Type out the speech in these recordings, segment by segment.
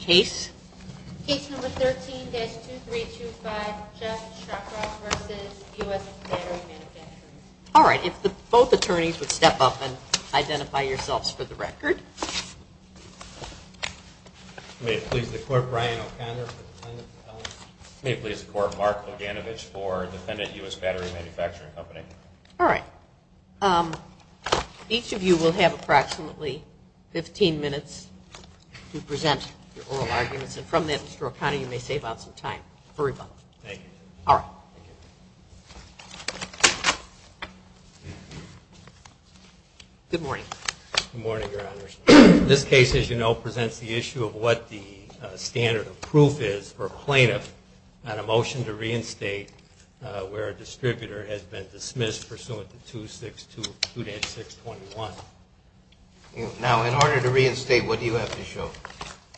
Case No. 13-2325, Jeff Shacroff v. U.S. Battery Manufacturing Company. All right, if both attorneys would step up and identify yourselves for the record. May it please the Court, Brian O'Connor for the Defendant's Appeal. May it please the Court, Mark Luganovich for the Defendant, U.S. Battery Manufacturing Company. All right. Each of you will have approximately 15 minutes to present your oral arguments. And from that, Mr. O'Connor, you may save out some time for rebuttal. Thank you. All right. Good morning. Good morning, Your Honors. This case, as you know, presents the issue of what the standard of proof is for a plaintiff on a motion to reinstate where a distributor has been dismissed pursuant to 262, 2-621. Now, in order to reinstate, what do you have to show?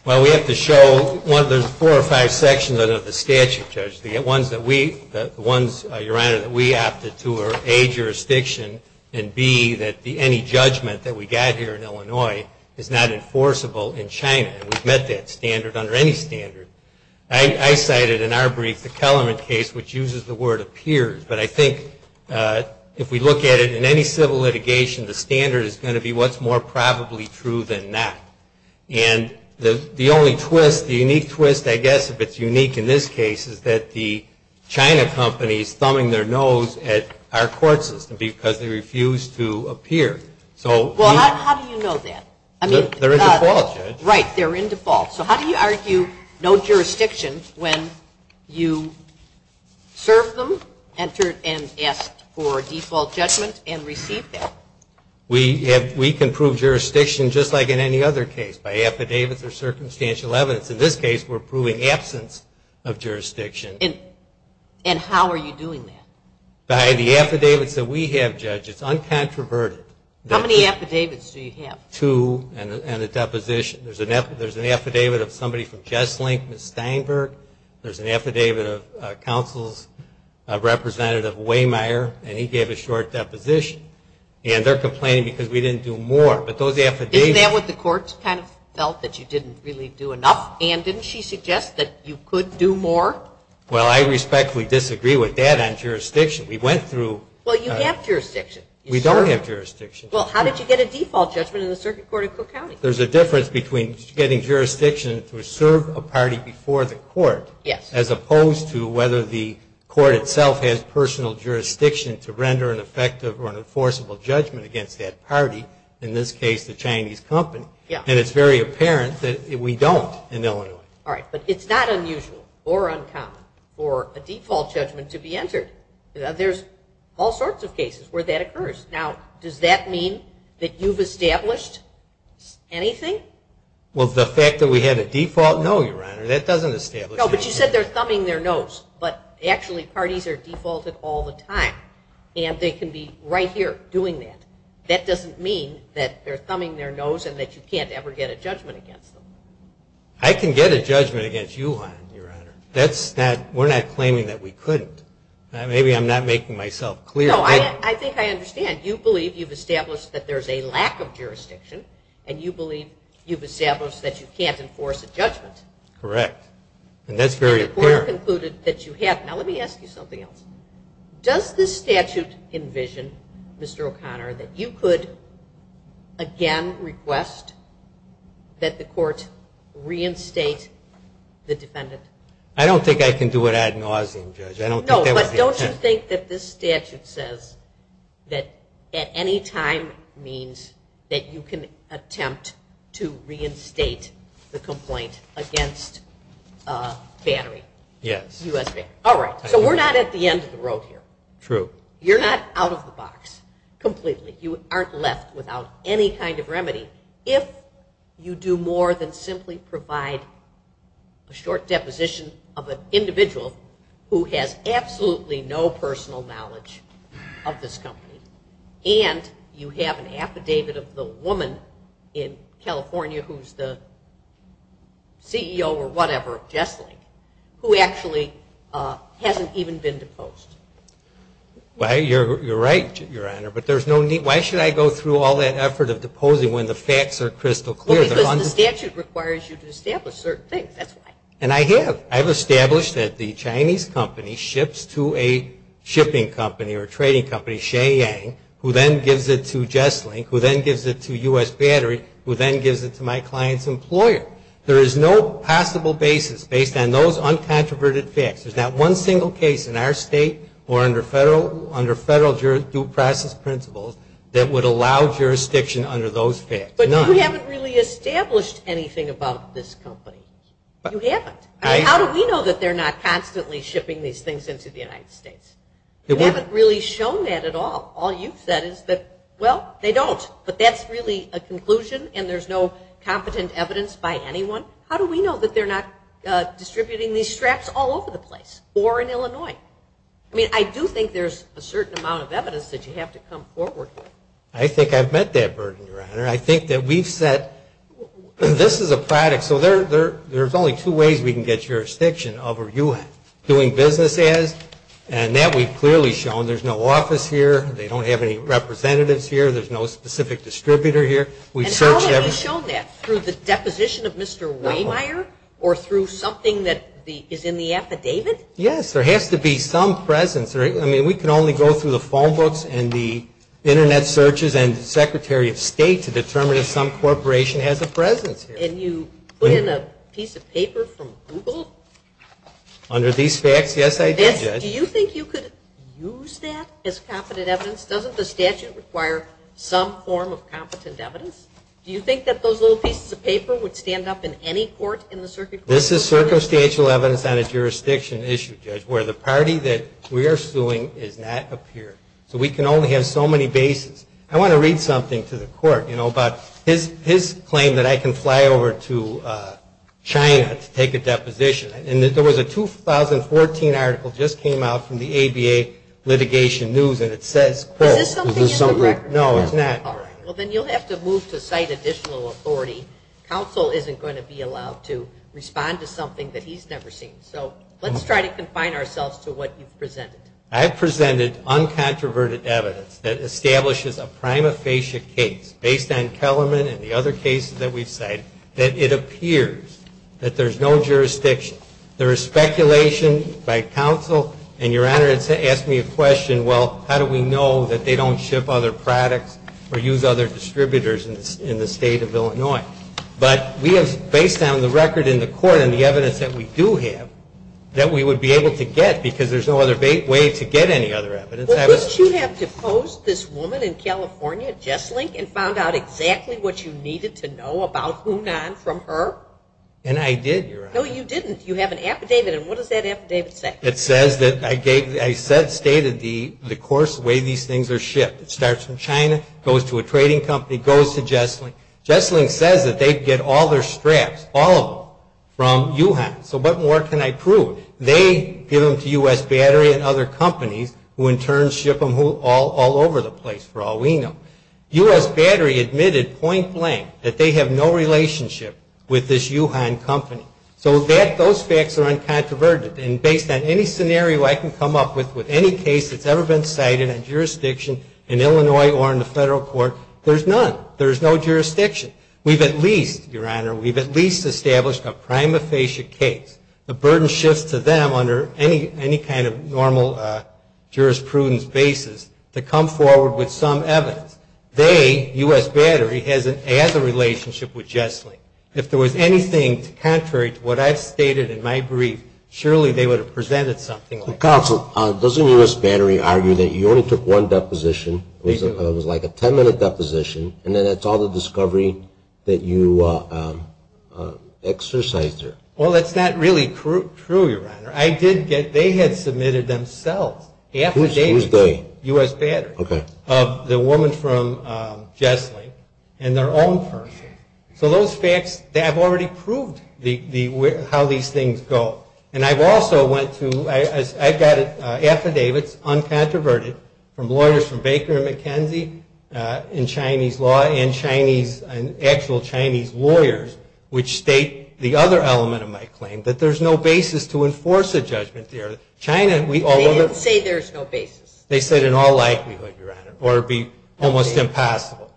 Well, we have to show one of the four or five sections of the statute, Judge. The ones that we, Your Honor, that we opted to are A, jurisdiction, and B, that any judgment that we got here in Illinois is not enforceable in China. And we've met that standard under any standard. I cited in our brief the Kellerman case, which uses the word appears. But I think if we look at it in any civil litigation, the standard is going to be what's more probably true than not. And the only twist, the unique twist, I guess, if it's unique in this case, is that the China company is thumbing their nose at our court system because they refuse to appear. Well, how do you know that? They're in default, Judge. Right. They're in default. So how do you argue no jurisdiction when you serve them and ask for default judgment and receive that? We can prove jurisdiction just like in any other case, by affidavits or circumstantial evidence. In this case, we're proving absence of jurisdiction. And how are you doing that? By the affidavits that we have, Judge. It's uncontroverted. How many affidavits do you have? Two and a deposition. There's an affidavit of somebody from Jesslink, Ms. Steinberg. There's an affidavit of counsel's representative, Waymire, and he gave a short deposition. And they're complaining because we didn't do more. Isn't that what the courts kind of felt, that you didn't really do enough? And didn't she suggest that you could do more? Well, I respectfully disagree with that on jurisdiction. Well, you have jurisdiction. We don't have jurisdiction. Well, how did you get a default judgment in the Circuit Court of Cook County? There's a difference between getting jurisdiction to serve a party before the court, as opposed to whether the court itself has personal jurisdiction to render an effective or an enforceable judgment against that party, in this case the Chinese company. And it's very apparent that we don't in Illinois. All right, but it's not unusual or uncommon for a default judgment to be entered. There's all sorts of cases where that occurs. Now, does that mean that you've established anything? Well, the fact that we had a default, no, Your Honor, that doesn't establish anything. No, but you said they're thumbing their nose. But actually parties are defaulted all the time, and they can be right here doing that. That doesn't mean that they're thumbing their nose and that you can't ever get a judgment against them. I can get a judgment against you, Your Honor. We're not claiming that we couldn't. Maybe I'm not making myself clear. No, I think I understand. You believe you've established that there's a lack of jurisdiction, and you believe you've established that you can't enforce a judgment. Correct, and that's very apparent. And the court concluded that you have. Now, let me ask you something else. Does this statute envision, Mr. O'Connor, that you could again request that the court reinstate the defendant? I don't think I can do it ad nauseum, Judge. No, but don't you think that this statute says that at any time means that you can attempt to reinstate the complaint against Battery? Yes. All right, so we're not at the end of the road here. True. You're not out of the box completely. You aren't left without any kind of remedy. If you do more than simply provide a short deposition of an individual who has absolutely no personal knowledge of this company, and you have an affidavit of the woman in California who's the CEO or whatever of Jessling, who actually hasn't even been deposed. Well, you're right, Your Honor, but why should I go through all that effort of deposing when the facts are crystal clear? Well, because the statute requires you to establish certain things. That's why. And I have. I have established that the Chinese company ships to a shipping company or trading company, Shea Yang, who then gives it to Jessling, who then gives it to U.S. Battery, who then gives it to my client's employer. There is no possible basis based on those uncontroverted facts. There's not one single case in our state or under federal due process principles that would allow jurisdiction under those facts. None. But you haven't really established anything about this company. You haven't. How do we know that they're not constantly shipping these things into the United States? You haven't really shown that at all. All you've said is that, well, they don't, but that's really a conclusion and there's no competent evidence by anyone. How do we know that they're not distributing these straps all over the place or in Illinois? I mean, I do think there's a certain amount of evidence that you have to come forward with. I think I've met that burden, Your Honor. I think that we've said this is a product. So there's only two ways we can get jurisdiction over you doing business as, and that we've clearly shown. There's no office here. They don't have any representatives here. There's no specific distributor here. And how have you shown that? Through the deposition of Mr. Wehmeyer or through something that is in the affidavit? Yes, there has to be some presence. I mean, we can only go through the phone books and the Internet searches and the Secretary of State to determine if some corporation has a presence here. And you put in a piece of paper from Google? Under these facts, yes, I did, Judge. Do you think you could use that as competent evidence? Doesn't the statute require some form of competent evidence? Do you think that those little pieces of paper would stand up in any court in the circuit? This is circumstantial evidence on a jurisdiction issue, Judge, where the party that we are suing has not appeared. So we can only have so many bases. I want to read something to the court, you know, about his claim that I can fly over to China to take a deposition. And there was a 2014 article that just came out from the ABA litigation news, and it says, quote, Is this something in the record? No, it's not. All right. Well, then you'll have to move to cite additional authority. Counsel isn't going to be allowed to respond to something that he's never seen. So let's try to confine ourselves to what you've presented. I've presented uncontroverted evidence that establishes a prima facie case, based on Kellerman and the other cases that we've cited, that it appears that there's no jurisdiction. There is speculation by counsel, and, Your Honor, it's asked me a question, well, how do we know that they don't ship other products or use other distributors in the State of Illinois? But we have, based on the record in the court and the evidence that we do have, that we would be able to get, because there's no other way to get any other evidence. Well, couldn't you have deposed this woman in California, Jesslyn, and found out exactly what you needed to know about Hunan from her? And I did, Your Honor. No, you didn't. You have an affidavit, and what does that affidavit say? It says that I stated the course of the way these things are shipped. It starts from China, goes to a trading company, goes to Jesslyn. Jesslyn says that they get all their straps, all of them, from Yuhan. So what more can I prove? They give them to U.S. Battery and other companies who, in turn, ship them all over the place for all we know. U.S. Battery admitted point blank that they have no relationship with this Yuhan company. So those facts are uncontroverted, and based on any scenario I can come up with, with any case that's ever been cited on jurisdiction in Illinois or in the federal court, there's none. There's no jurisdiction. We've at least, Your Honor, we've at least established a prima facie case. The burden shifts to them under any kind of normal jurisprudence basis to come forward with some evidence. They, U.S. Battery, has a relationship with Jesslyn. If there was anything contrary to what I've stated in my brief, surely they would have presented something like that. Counsel, doesn't U.S. Battery argue that you only took one deposition, it was like a 10-minute deposition, and then that's all the discovery that you exercised there? Well, that's not really true, Your Honor. I did get, they had submitted themselves affidavits. Who's they? U.S. Battery. Okay. Of the woman from Jesslyn and their own person. So those facts, I've already proved how these things go. And I've also went to, I've got affidavits, uncontroverted, from lawyers from Baker and McKenzie in Chinese law and Chinese, actual Chinese lawyers, which state the other element of my claim, that there's no basis to enforce a judgment there. They didn't say there's no basis. They said in all likelihood, Your Honor, or it would be almost impossible.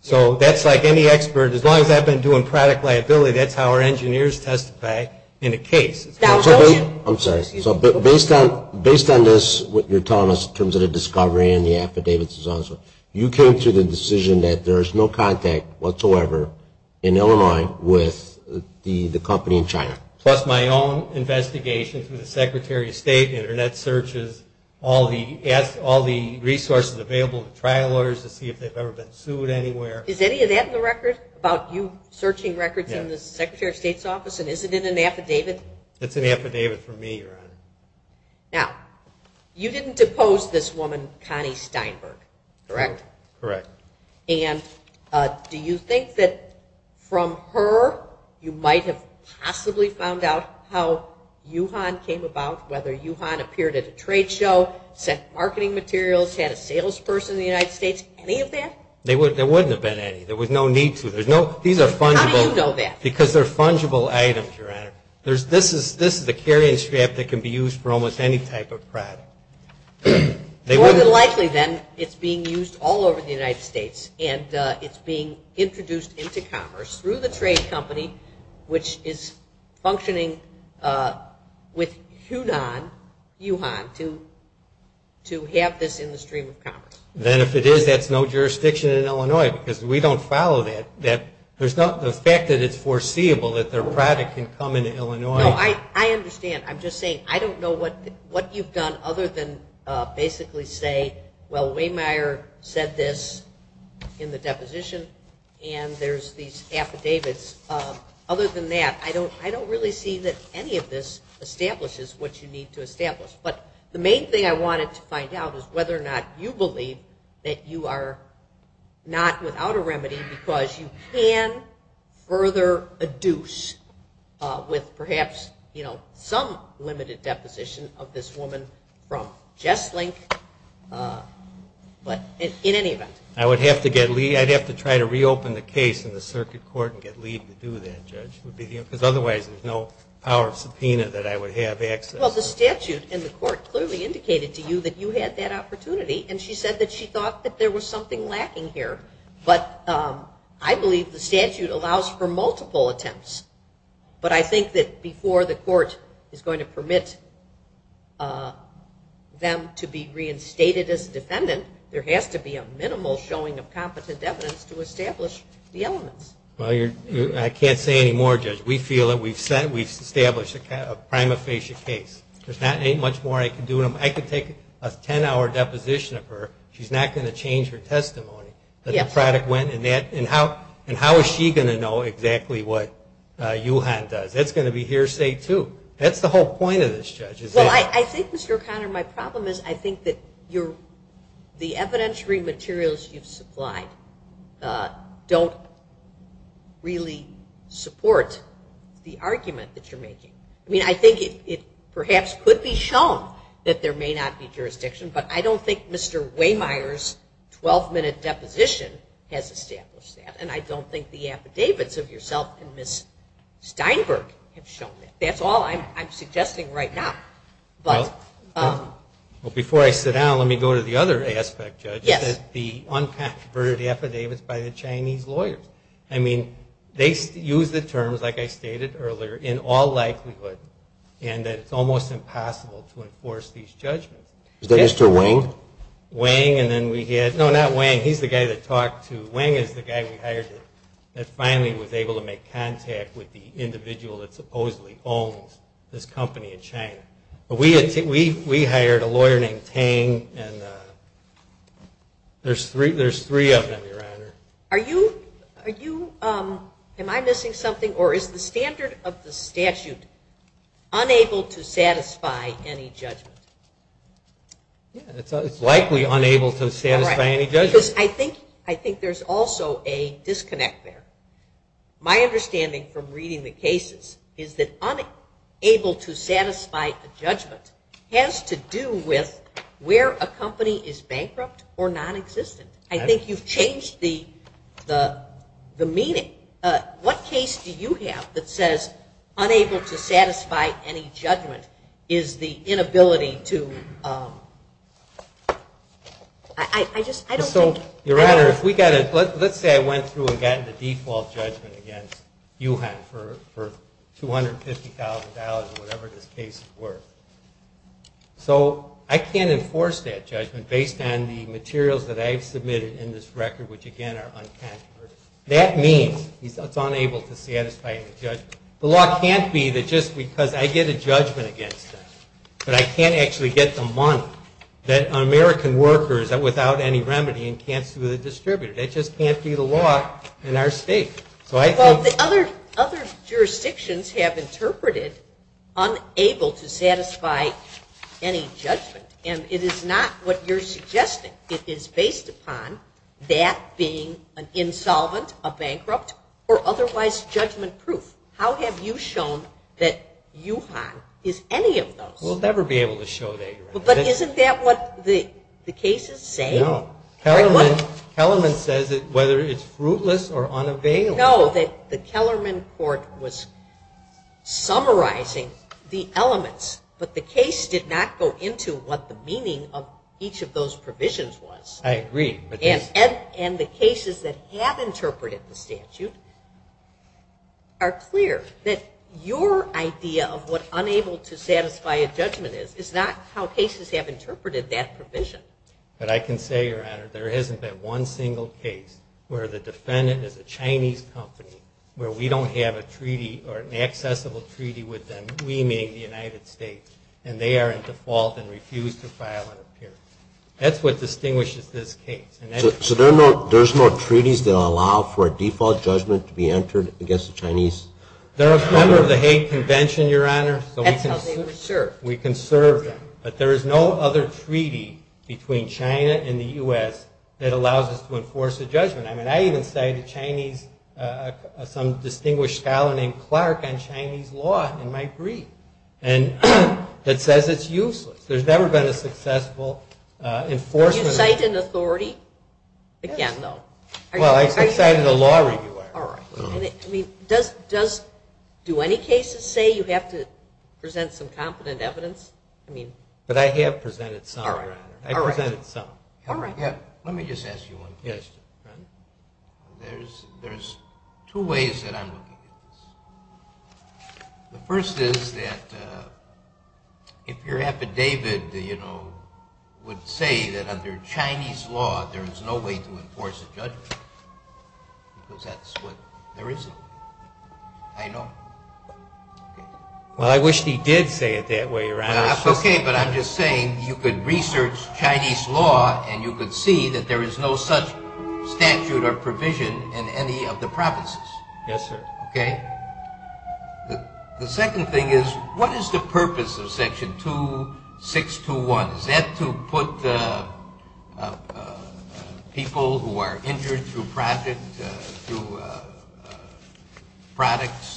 So that's like any expert, as long as I've been doing product liability, that's how our engineers testify in a case. I'm sorry. Based on this, what you're telling us in terms of the discovery and the affidavits, you came to the decision that there is no contact whatsoever in Illinois with the company in China? Plus my own investigation through the Secretary of State, Internet searches, all the resources available to trial lawyers to see if they've ever been sued anywhere. Is any of that in the record about you searching records in the Secretary of State's office? And is it in an affidavit? It's an affidavit from me, Your Honor. Now, you didn't depose this woman, Connie Steinberg, correct? Correct. And do you think that from her you might have possibly found out how Yuhan came about, whether Yuhan appeared at a trade show, sent marketing materials, had a salesperson in the United States, any of that? There wouldn't have been any. There was no need to. These are fungible. How do you know that? Because they're fungible items, Your Honor. This is a carrying strap that can be used for almost any type of product. More than likely, then, it's being used all over the United States, and it's being introduced into commerce through the trade company, which is functioning with Yuhan to have this in the stream of commerce. Then if it is, that's no jurisdiction in Illinois because we don't follow that. There's not the fact that it's foreseeable that their product can come into Illinois. No, I understand. I'm just saying I don't know what you've done other than basically say, well, Waymeier said this in the deposition, and there's these affidavits. Other than that, I don't really see that any of this establishes what you need to establish. But the main thing I wanted to find out is whether or not you believe that you are not without a remedy because you can further adduce with perhaps some limited deposition of this woman from Jesslink, but in any event. I'd have to try to reopen the case in the circuit court and get Lee to do that, Judge, because otherwise there's no power of subpoena that I would have access to. Well, the statute in the court clearly indicated to you that you had that opportunity, and she said that she thought that there was something lacking here. But I believe the statute allows for multiple attempts. But I think that before the court is going to permit them to be reinstated as a defendant, there has to be a minimal showing of competent evidence to establish the elements. Well, I can't say any more, Judge. We feel that we've established a prima facie case. There's not much more I can do. I could take a 10-hour deposition of her. She's not going to change her testimony that the product went, and how is she going to know exactly what Juhan does? That's going to be hearsay, too. That's the whole point of this, Judge. Well, I think, Mr. O'Connor, my problem is I think that the evidentiary materials you've supplied don't really support the argument that you're making. I mean, I think it perhaps could be shown that there may not be jurisdiction, but I don't think Mr. Waymire's 12-minute deposition has established that, and I don't think the affidavits of yourself and Ms. Steinberg have shown that. That's all I'm suggesting right now. Well, before I sit down, let me go to the other aspect, Judge, which is the unconverted affidavits by the Chinese lawyers. I mean, they use the terms, like I stated earlier, in all likelihood, and that it's almost impossible to enforce these judgments. Is that Mr. Wang? Wang, and then we had – no, not Wang. He's the guy that talked to – Wang is the guy we hired that finally was able to make contact with the individual that supposedly owns this company in China. We hired a lawyer named Tang, and there's three of them, Your Honor. Are you – am I missing something, or is the standard of the statute unable to satisfy any judgment? Yeah, it's likely unable to satisfy any judgment. Because I think there's also a disconnect there. My understanding from reading the cases is that unable to satisfy a judgment has to do with where a company is bankrupt or nonexistent. I think you've changed the meaning. What case do you have that says unable to satisfy any judgment is the inability to – I just – I don't think – Your Honor, if we got a – let's say I went through and got the default judgment against Yuhan for $250,000 or whatever this case is worth. So I can't enforce that judgment based on the materials that I've submitted in this record, which, again, are uncontroversial. That means it's unable to satisfy any judgment. The law can't be that just because I get a judgment against them that I can't actually get the money that American workers without any remedy can't sue the distributor. That just can't be the law in our state. So I think – Well, other jurisdictions have interpreted unable to satisfy any judgment, and it is not what you're suggesting. It is based upon that being an insolvent, a bankrupt, or otherwise judgment-proof. How have you shown that Yuhan is any of those? We'll never be able to show that, Your Honor. But isn't that what the cases say? No. Kellerman says whether it's fruitless or unavailable. We know that the Kellerman court was summarizing the elements, but the case did not go into what the meaning of each of those provisions was. I agree. And the cases that have interpreted the statute are clear, that your idea of what unable to satisfy a judgment is, is not how cases have interpreted that provision. But I can say, Your Honor, there hasn't been one single case where the defendant is a Chinese company, where we don't have a treaty or an accessible treaty with them, we meaning the United States, and they are in default and refuse to file an appearance. That's what distinguishes this case. So there's no treaties that allow for a default judgment to be entered against a Chinese company? They're a member of the Hague Convention, Your Honor. That's how they were served. We can serve them. But there is no other treaty between China and the U.S. that allows us to enforce a judgment. I even cited some distinguished scholar named Clark on Chinese law in my brief that says it's useless. There's never been a successful enforcement of that. Did you cite an authority? Again, though. Well, I cited a law reviewer. All right. Do any cases say you have to present some competent evidence? But I have presented some, Your Honor. I presented some. All right. Let me just ask you one question. There's two ways that I'm looking at this. The first is that if your affidavit, you know, would say that under Chinese law there is no way to enforce a judgment because that's what there isn't. I know. Well, I wish he did say it that way, Your Honor. Okay, but I'm just saying you could research Chinese law and you could see that there is no such statute or provision in any of the provinces. Yes, sir. Okay. The second thing is what is the purpose of Section 2621? Is that to put people who are injured through products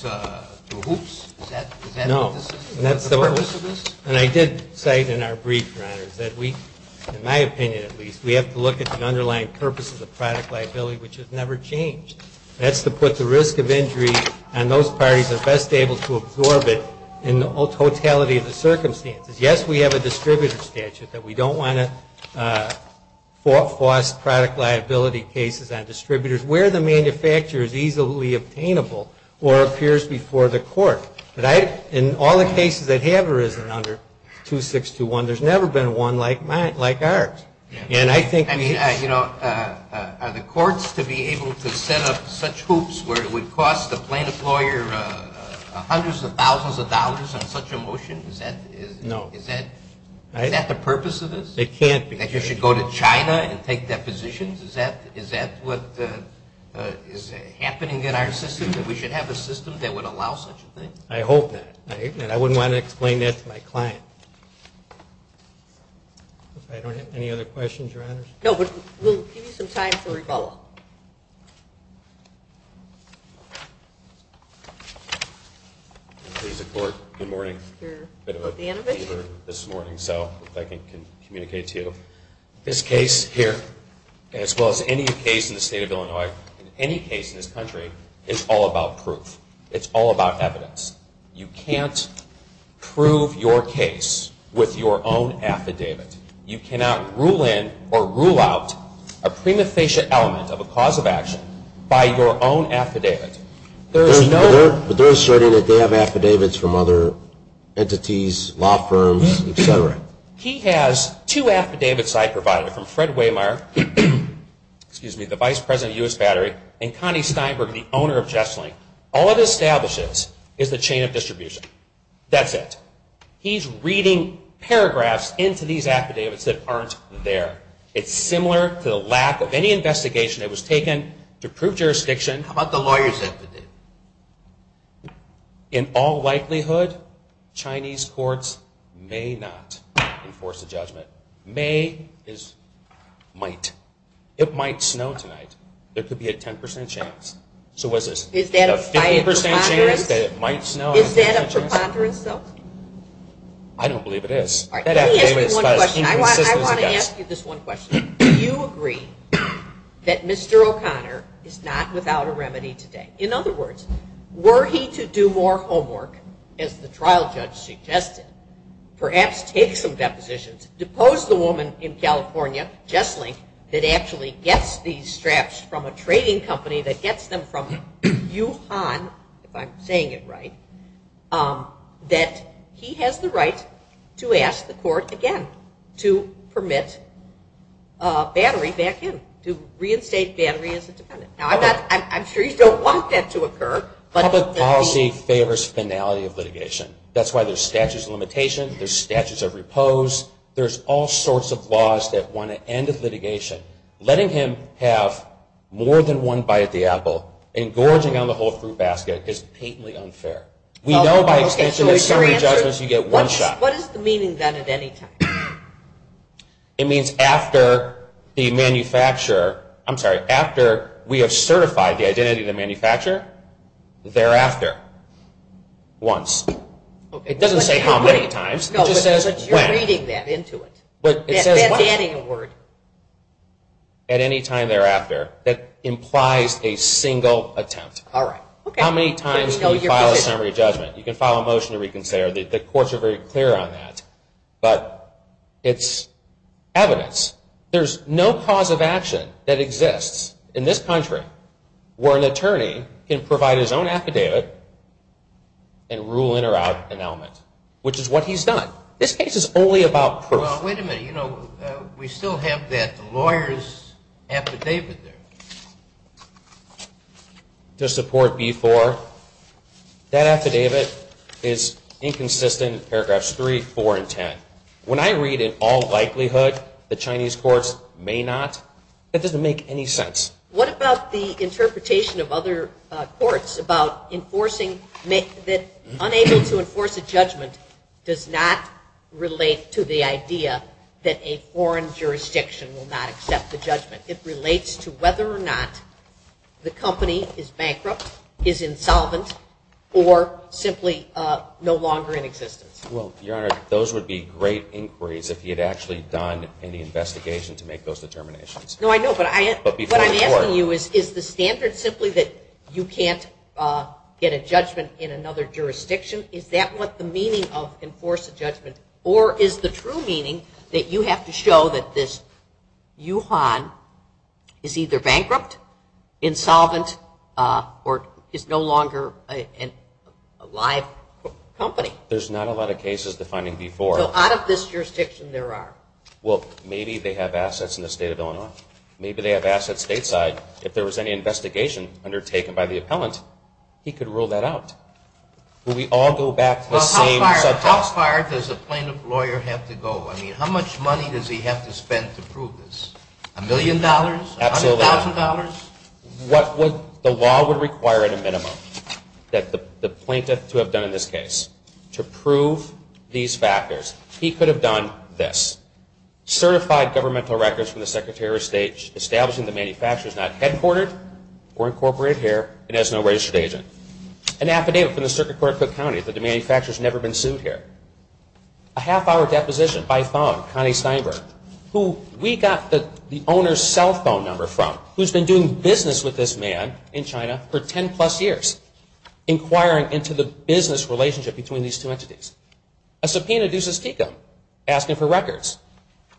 to hoops? Is that the purpose of this? No. And I did cite in our brief, Your Honor, that we, in my opinion at least, we have to look at the underlying purpose of the product liability, which has never changed. That's to put the risk of injury on those parties that are best able to absorb it in the totality of the circumstances. Yes, we have a distributor statute that we don't want to force product liability cases on distributors where the manufacturer is easily obtainable or appears before the court. But in all the cases that have arisen under 2621, there's never been one like ours. I mean, you know, are the courts to be able to set up such hoops where it would cost the plaintiff lawyer hundreds of thousands of dollars on such a motion? No. Is that the purpose of this? It can't be. That you should go to China and take depositions? Is that what is happening in our system, that we should have a system that would allow such a thing? I hope not. I wouldn't want to explain that to my client. Okay. I don't have any other questions or answers. No, but we'll give you some time for rebuttal. Good morning. A bit of a fever this morning, so if I can communicate to you. This case here, as well as any case in the state of Illinois, any case in this country, is all about proof. It's all about evidence. You can't prove your case with your own affidavit. You cannot rule in or rule out a prima facie element of a cause of action by your own affidavit. But they're asserting that they have affidavits from other entities, law firms, et cetera. He has two affidavits I provided from Fred Wehmeyer, the vice president of U.S. Battery, and Connie Steinberg, the owner of Jesslink. All it establishes is the chain of distribution. That's it. He's reading paragraphs into these affidavits that aren't there. It's similar to the lack of any investigation that was taken to prove jurisdiction. How about the lawyer's affidavit? In all likelihood, Chinese courts may not enforce a judgment. May is might. It might snow tonight. There could be a 10% chance. Is that a 50% chance that it might snow? Is that a preponderance, though? I don't believe it is. Let me ask you one question. I want to ask you this one question. Do you agree that Mr. O'Connor is not without a remedy today? In other words, were he to do more homework, as the trial judge suggested, perhaps take some depositions, depose the woman in California, Jesslink, that actually gets these straps from a trading company that gets them from Yuhan, if I'm saying it right, that he has the right to ask the court again to permit battery back in, to reinstate battery as a defendant. Now, I'm sure you don't want that to occur. Public policy favors finality of litigation. That's why there's statutes of limitation, there's statutes of repose, there's all sorts of laws that want to end the litigation. Letting him have more than one bite of the apple and gorging on the whole fruit basket is patently unfair. We know by extension that in so many judgments you get one shot. What is the meaning of that at any time? It means after the manufacturer, I'm sorry, after we have certified the identity of the manufacturer, thereafter, once. It doesn't say how many times. It just says when. No, but you're reading that into it. That's adding a word. At any time thereafter, that implies a single attempt. How many times can you file a summary judgment? You can file a motion to reconsider. The courts are very clear on that, but it's evidence. There's no cause of action that exists in this country where an attorney can provide his own affidavit and rule in or out an element, which is what he's done. This case is only about proof. Well, wait a minute. You know, we still have that lawyer's affidavit there to support B-4. That affidavit is inconsistent in paragraphs 3, 4, and 10. When I read in all likelihood the Chinese courts may not, that doesn't make any sense. What about the interpretation of other courts about enforcing that unable to enforce a judgment does not relate to the idea that a foreign jurisdiction will not accept the judgment. It relates to whether or not the company is bankrupt, is insolvent, or simply no longer in existence. Well, Your Honor, those would be great inquiries if he had actually done any investigation to make those determinations. No, I know, but what I'm asking you is, is the standard simply that you can't get a judgment in another jurisdiction? Is that what the meaning of enforce a judgment, or is the true meaning that you have to show that this Yuhan is either bankrupt, insolvent, or is no longer a live company? There's not a lot of cases defining B-4. So out of this jurisdiction there are. Well, maybe they have assets in the state of Illinois. Maybe they have assets stateside. But if there was any investigation undertaken by the appellant, he could rule that out. Will we all go back to the same subtext? Well, how far does a plaintiff lawyer have to go? I mean, how much money does he have to spend to prove this? A million dollars? Absolutely. $100,000? The law would require at a minimum that the plaintiff to have done in this case to prove these factors. He could have done this. Certified governmental records from the Secretary of State establishing that the manufacturer is not headquartered or incorporated here and has no registered agent. An affidavit from the Circuit Court of Cook County that the manufacturer has never been sued here. A half-hour deposition by phone, Connie Steinberg, who we got the owner's cell phone number from, who's been doing business with this man in China for 10-plus years, inquiring into the business relationship between these two entities. A subpoena, Deuces Tecum, asking for records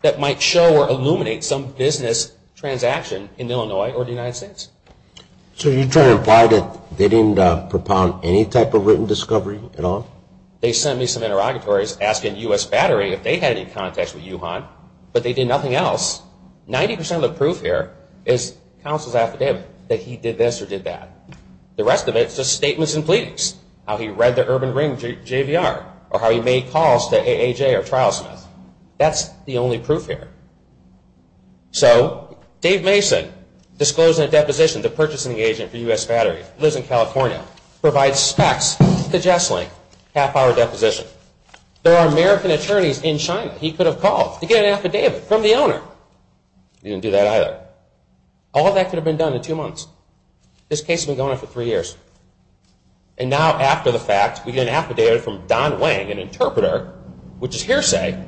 that might show or illuminate some business transaction in Illinois or the United States. So you're trying to imply that they didn't propound any type of written discovery at all? They sent me some interrogatories asking U.S. Battery if they had any contacts with Yuhan, but they did nothing else. Ninety percent of the proof here is counsel's affidavit, that he did this or did that. The rest of it is just statements and pleadings, how he read the Urban Ring JVR, or how he made calls to AAJ or Trialsmith. That's the only proof here. So Dave Mason disclosing a deposition to purchasing agent for U.S. Battery, lives in California, provides specs to Jessling, half-hour deposition. There are American attorneys in China he could have called to get an affidavit from the owner. He didn't do that either. All that could have been done in two months. This case has been going on for three years. And now after the fact, we get an affidavit from Don Wang, an interpreter, which is hearsay,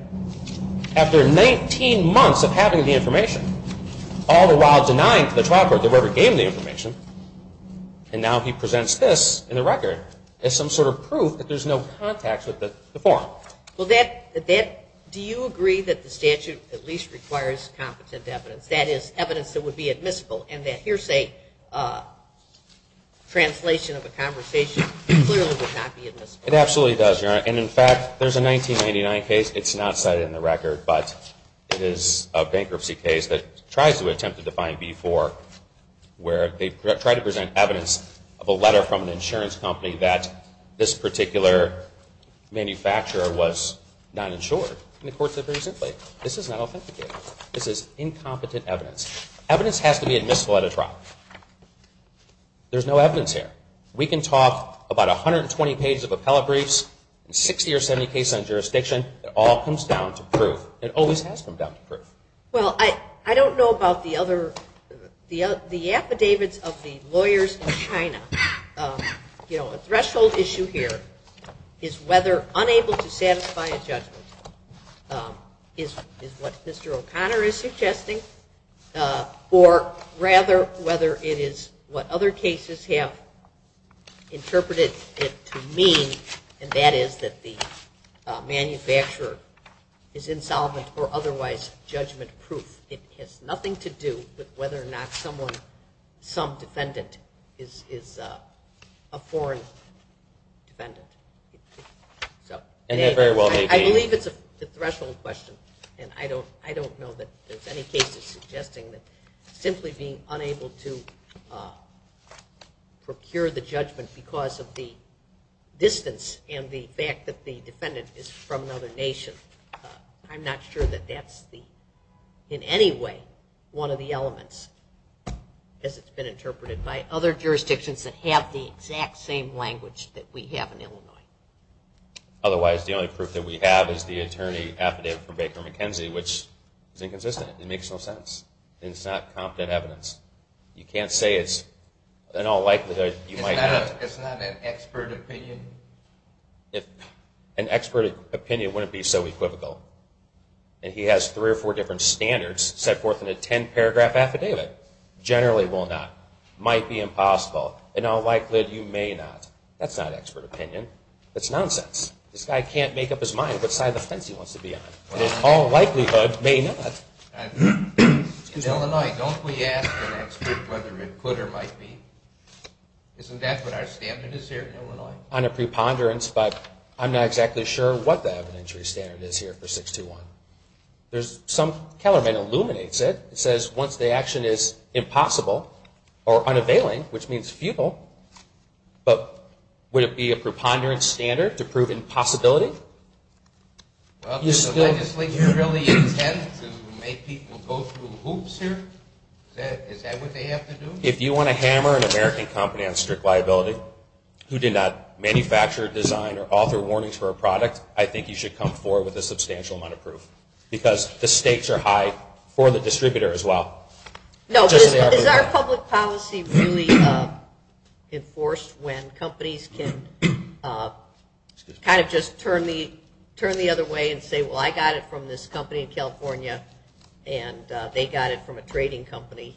after 19 months of having the information, all the while denying to the trial court that we ever gained the information, and now he presents this in the record as some sort of proof that there's no contacts with the forum. Well, do you agree that the statute at least requires competent evidence, that is, evidence that would be admissible, and that hearsay translation of a conversation clearly would not be admissible? It absolutely does, Your Honor. And in fact, there's a 1999 case, it's not cited in the record, but it is a bankruptcy case that tries to attempt to define B-4, where they try to present evidence of a letter from an insurance company that this particular manufacturer was not insured. And the court said very simply, this is not authenticated. This is incompetent evidence. Evidence has to be admissible at a trial. There's no evidence here. We can talk about 120 pages of appellate briefs and 60 or 70 cases on jurisdiction. It all comes down to proof. It always has come down to proof. Well, I don't know about the other. The affidavits of the lawyers in China, you know, a threshold issue here is whether unable to satisfy a judgment is what Mr. O'Connor is suggesting, or rather whether it is what other cases have interpreted it to mean, and that is that the manufacturer is insolvent or otherwise judgment-proof. It has nothing to do with whether or not some defendant is a foreign defendant. I believe it's a threshold question, and I don't know that there's any cases suggesting that simply being unable to procure the judgment because of the distance and the fact that the defendant is from another nation. I'm not sure that that's in any way one of the elements, as it's been interpreted by other jurisdictions Otherwise, the only proof that we have is the attorney affidavit from Baker McKenzie, which is inconsistent. It makes no sense, and it's not competent evidence. You can't say it's in all likelihood you might not. It's not an expert opinion? An expert opinion wouldn't be so equivocal, and he has three or four different standards set forth in a 10-paragraph affidavit. Generally will not. Might be impossible. In all likelihood, you may not. That's not expert opinion. That's nonsense. This guy can't make up his mind what side of the fence he wants to be on. In all likelihood, may not. In Illinois, don't we ask an expert whether it could or might be? Isn't that what our standard is here in Illinois? On a preponderance, but I'm not exactly sure what the evidentiary standard is here for 621. There's some, Kellerman illuminates it. It says once the action is impossible or unavailing, which means futile, but would it be a preponderance standard to prove impossibility? Does the legislature really intend to make people go through hoops here? Is that what they have to do? If you want to hammer an American company on strict liability who did not manufacture, design, or author warnings for a product, I think you should come forward with a substantial amount of proof because the stakes are high for the distributor as well. Is our public policy really enforced when companies can kind of just turn the other way and say, well, I got it from this company in California and they got it from a trading company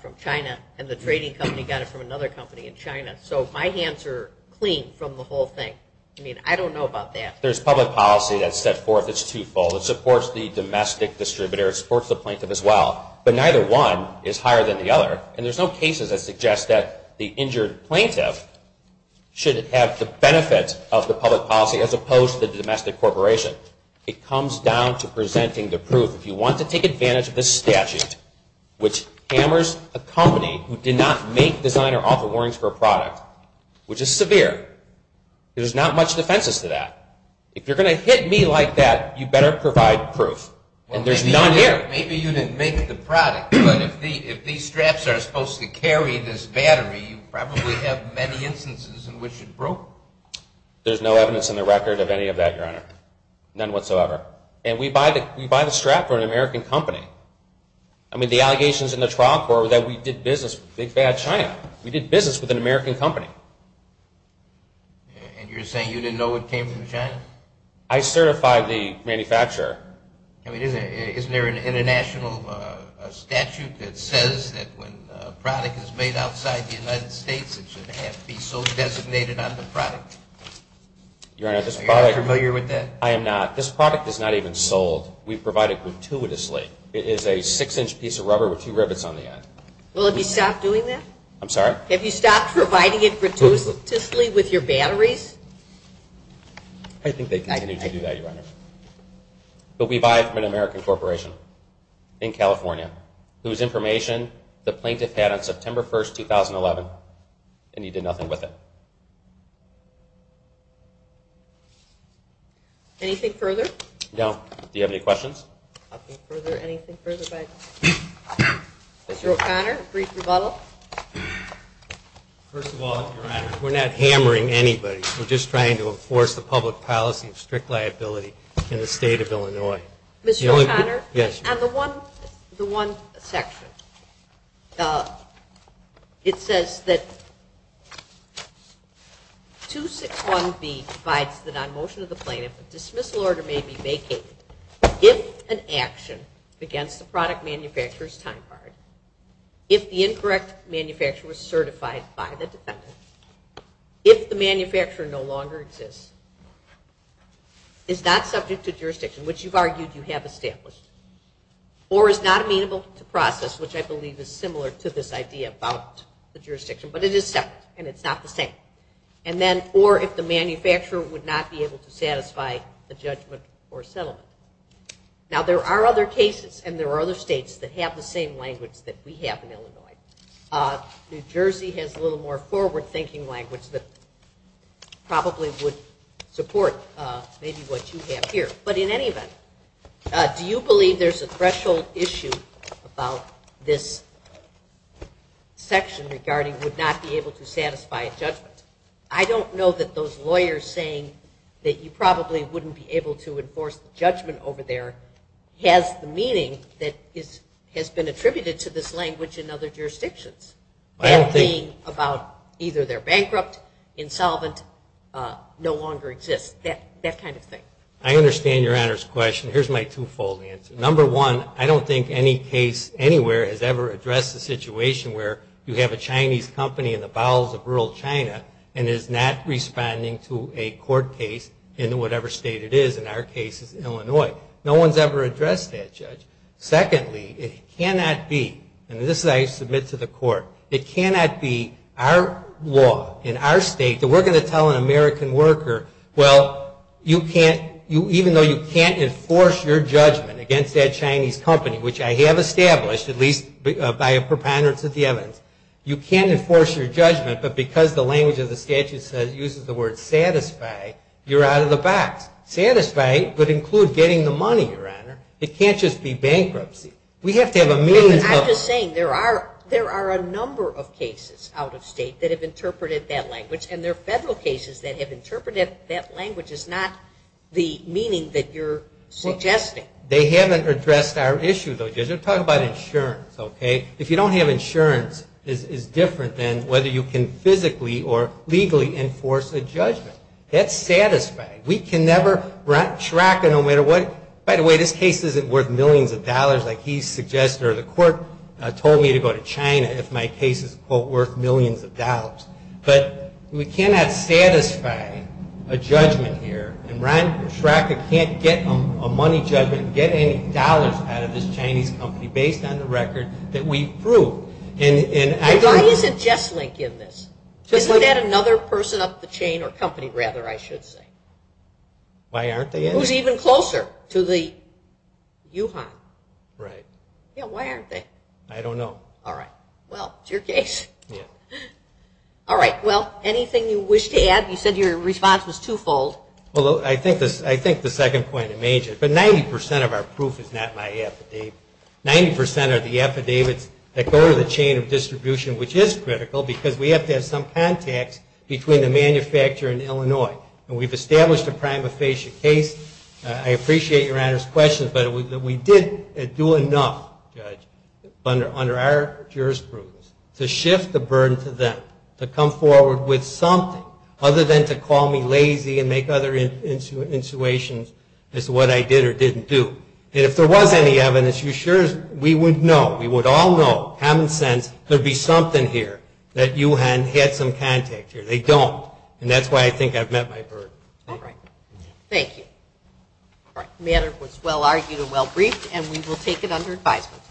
from China and the trading company got it from another company in China. So my hands are clean from the whole thing. I don't know about that. There's public policy that's set forth as twofold. It supports the domestic distributor. It supports the plaintiff as well. But neither one is higher than the other. And there's no cases that suggest that the injured plaintiff should have the benefit of the public policy as opposed to the domestic corporation. It comes down to presenting the proof. If you want to take advantage of this statute, which hammers a company who did not make, design, or author warnings for a product, which is severe, there's not much defenses to that. If you're going to hit me like that, you better provide proof. And there's none here. Maybe you didn't make the product, but if these straps are supposed to carry this battery, you probably have many instances in which it broke. There's no evidence in the record of any of that, Your Honor. None whatsoever. And we buy the strap from an American company. I mean, the allegations in the trial court were that we did business with big, bad China. We did business with an American company. And you're saying you didn't know it came from China? I certified the manufacturer. I mean, isn't there an international statute that says that when a product is made outside the United States, it should have to be so designated on the product? Are you not familiar with that? I am not. This product is not even sold. We provide it gratuitously. It is a 6-inch piece of rubber with two rivets on the end. Well, have you stopped doing that? I'm sorry? Have you stopped providing it gratuitously with your batteries? I think they continue to do that, Your Honor. But we buy it from an American corporation in California whose information the plaintiff had on September 1, 2011, and he did nothing with it. Anything further? No. Do you have any questions? Nothing further. Anything further by Mr. O'Connor? A brief rebuttal? First of all, Your Honor, we're not hammering anybody. We're just trying to enforce the public policy of strict liability in the State of Illinois. Mr. O'Connor? Yes. On the one section, it says that 261B provides that on motion of the plaintiff a dismissal order may be vacated if an action against the manufacturer is time-barred, if the incorrect manufacturer is certified by the defendant, if the manufacturer no longer exists, is not subject to jurisdiction, which you've argued you have established, or is not amenable to process, which I believe is similar to this idea about the jurisdiction, but it is separate and it's not the same, and then or if the manufacturer would not be able to satisfy the judgment or settlement. Now, there are other cases and there are other states that have the same language that we have in Illinois. New Jersey has a little more forward-thinking language that probably would support maybe what you have here. But in any event, do you believe there's a threshold issue about this section regarding would not be able to satisfy a judgment? I don't know that those lawyers saying that you probably wouldn't be able to enforce the judgment over there has the meaning that has been attributed to this language in other jurisdictions. That being about either they're bankrupt, insolvent, no longer exists, that kind of thing. I understand Your Honor's question. Here's my two-fold answer. Number one, I don't think any case anywhere has ever addressed the situation where you have a Chinese company in the bowels of rural China and is not responding to a court case in whatever state it is. In our case, it's Illinois. No one's ever addressed that, Judge. Secondly, it cannot be, and this I submit to the Court, it cannot be our law in our state that we're going to tell an American worker, well, you can't even though you can't enforce your judgment against that Chinese company, which I have established, at least by a preponderance of the evidence, you can't enforce your judgment, but because the language of the statute uses the word satisfy, you're out of the box. Satisfy would include getting the money, Your Honor. It can't just be bankruptcy. We have to have a means of... I'm just saying there are a number of cases out of state that have interpreted that language, and there are federal cases that have interpreted that language as not the meaning that you're suggesting. They haven't addressed our issue, though, Judge. We're talking about insurance, okay? If you don't have insurance, it's different than whether you can physically or legally enforce a judgment. That's satisfying. We can never... Ron Schraka, no matter what... By the way, this case isn't worth millions of dollars like he suggests, or the Court told me to go to China if my case is, quote, worth millions of dollars, but we cannot satisfy a judgment here, and Ron Schraka can't get a money judgment, get any dollars out of this Chinese company based on the record that we've proved. And I... Why isn't Jess Link in this? Isn't that another person up the chain, or company, rather, I should say? Why aren't they in it? Who's even closer to the... Yuhan. Right. Yeah, why aren't they? I don't know. All right. Well, it's your case. Yeah. All right. Well, anything you wish to add? You said your response was twofold. Well, I think the second point is major, but 90 percent of our proof is not my affidavit. Ninety percent of the affidavits that go to the chain of distribution, which is critical because we have to have some contacts between the manufacturer and Illinois. And we've established a prima facie case. I appreciate Your Honor's question, but we didn't do enough, Judge, under our jurisprudence to shift the burden to them, to come forward with something other than to call me lazy and make other intuitions as to what I did or didn't do. And if there was any evidence, we would know, we would all know, have a sense there'd be something here that Yuhan had some contact here. They don't. And that's why I think I've met my burden. All right. Thank you. All right. The matter was well argued and well briefed, and we will take it under advisement.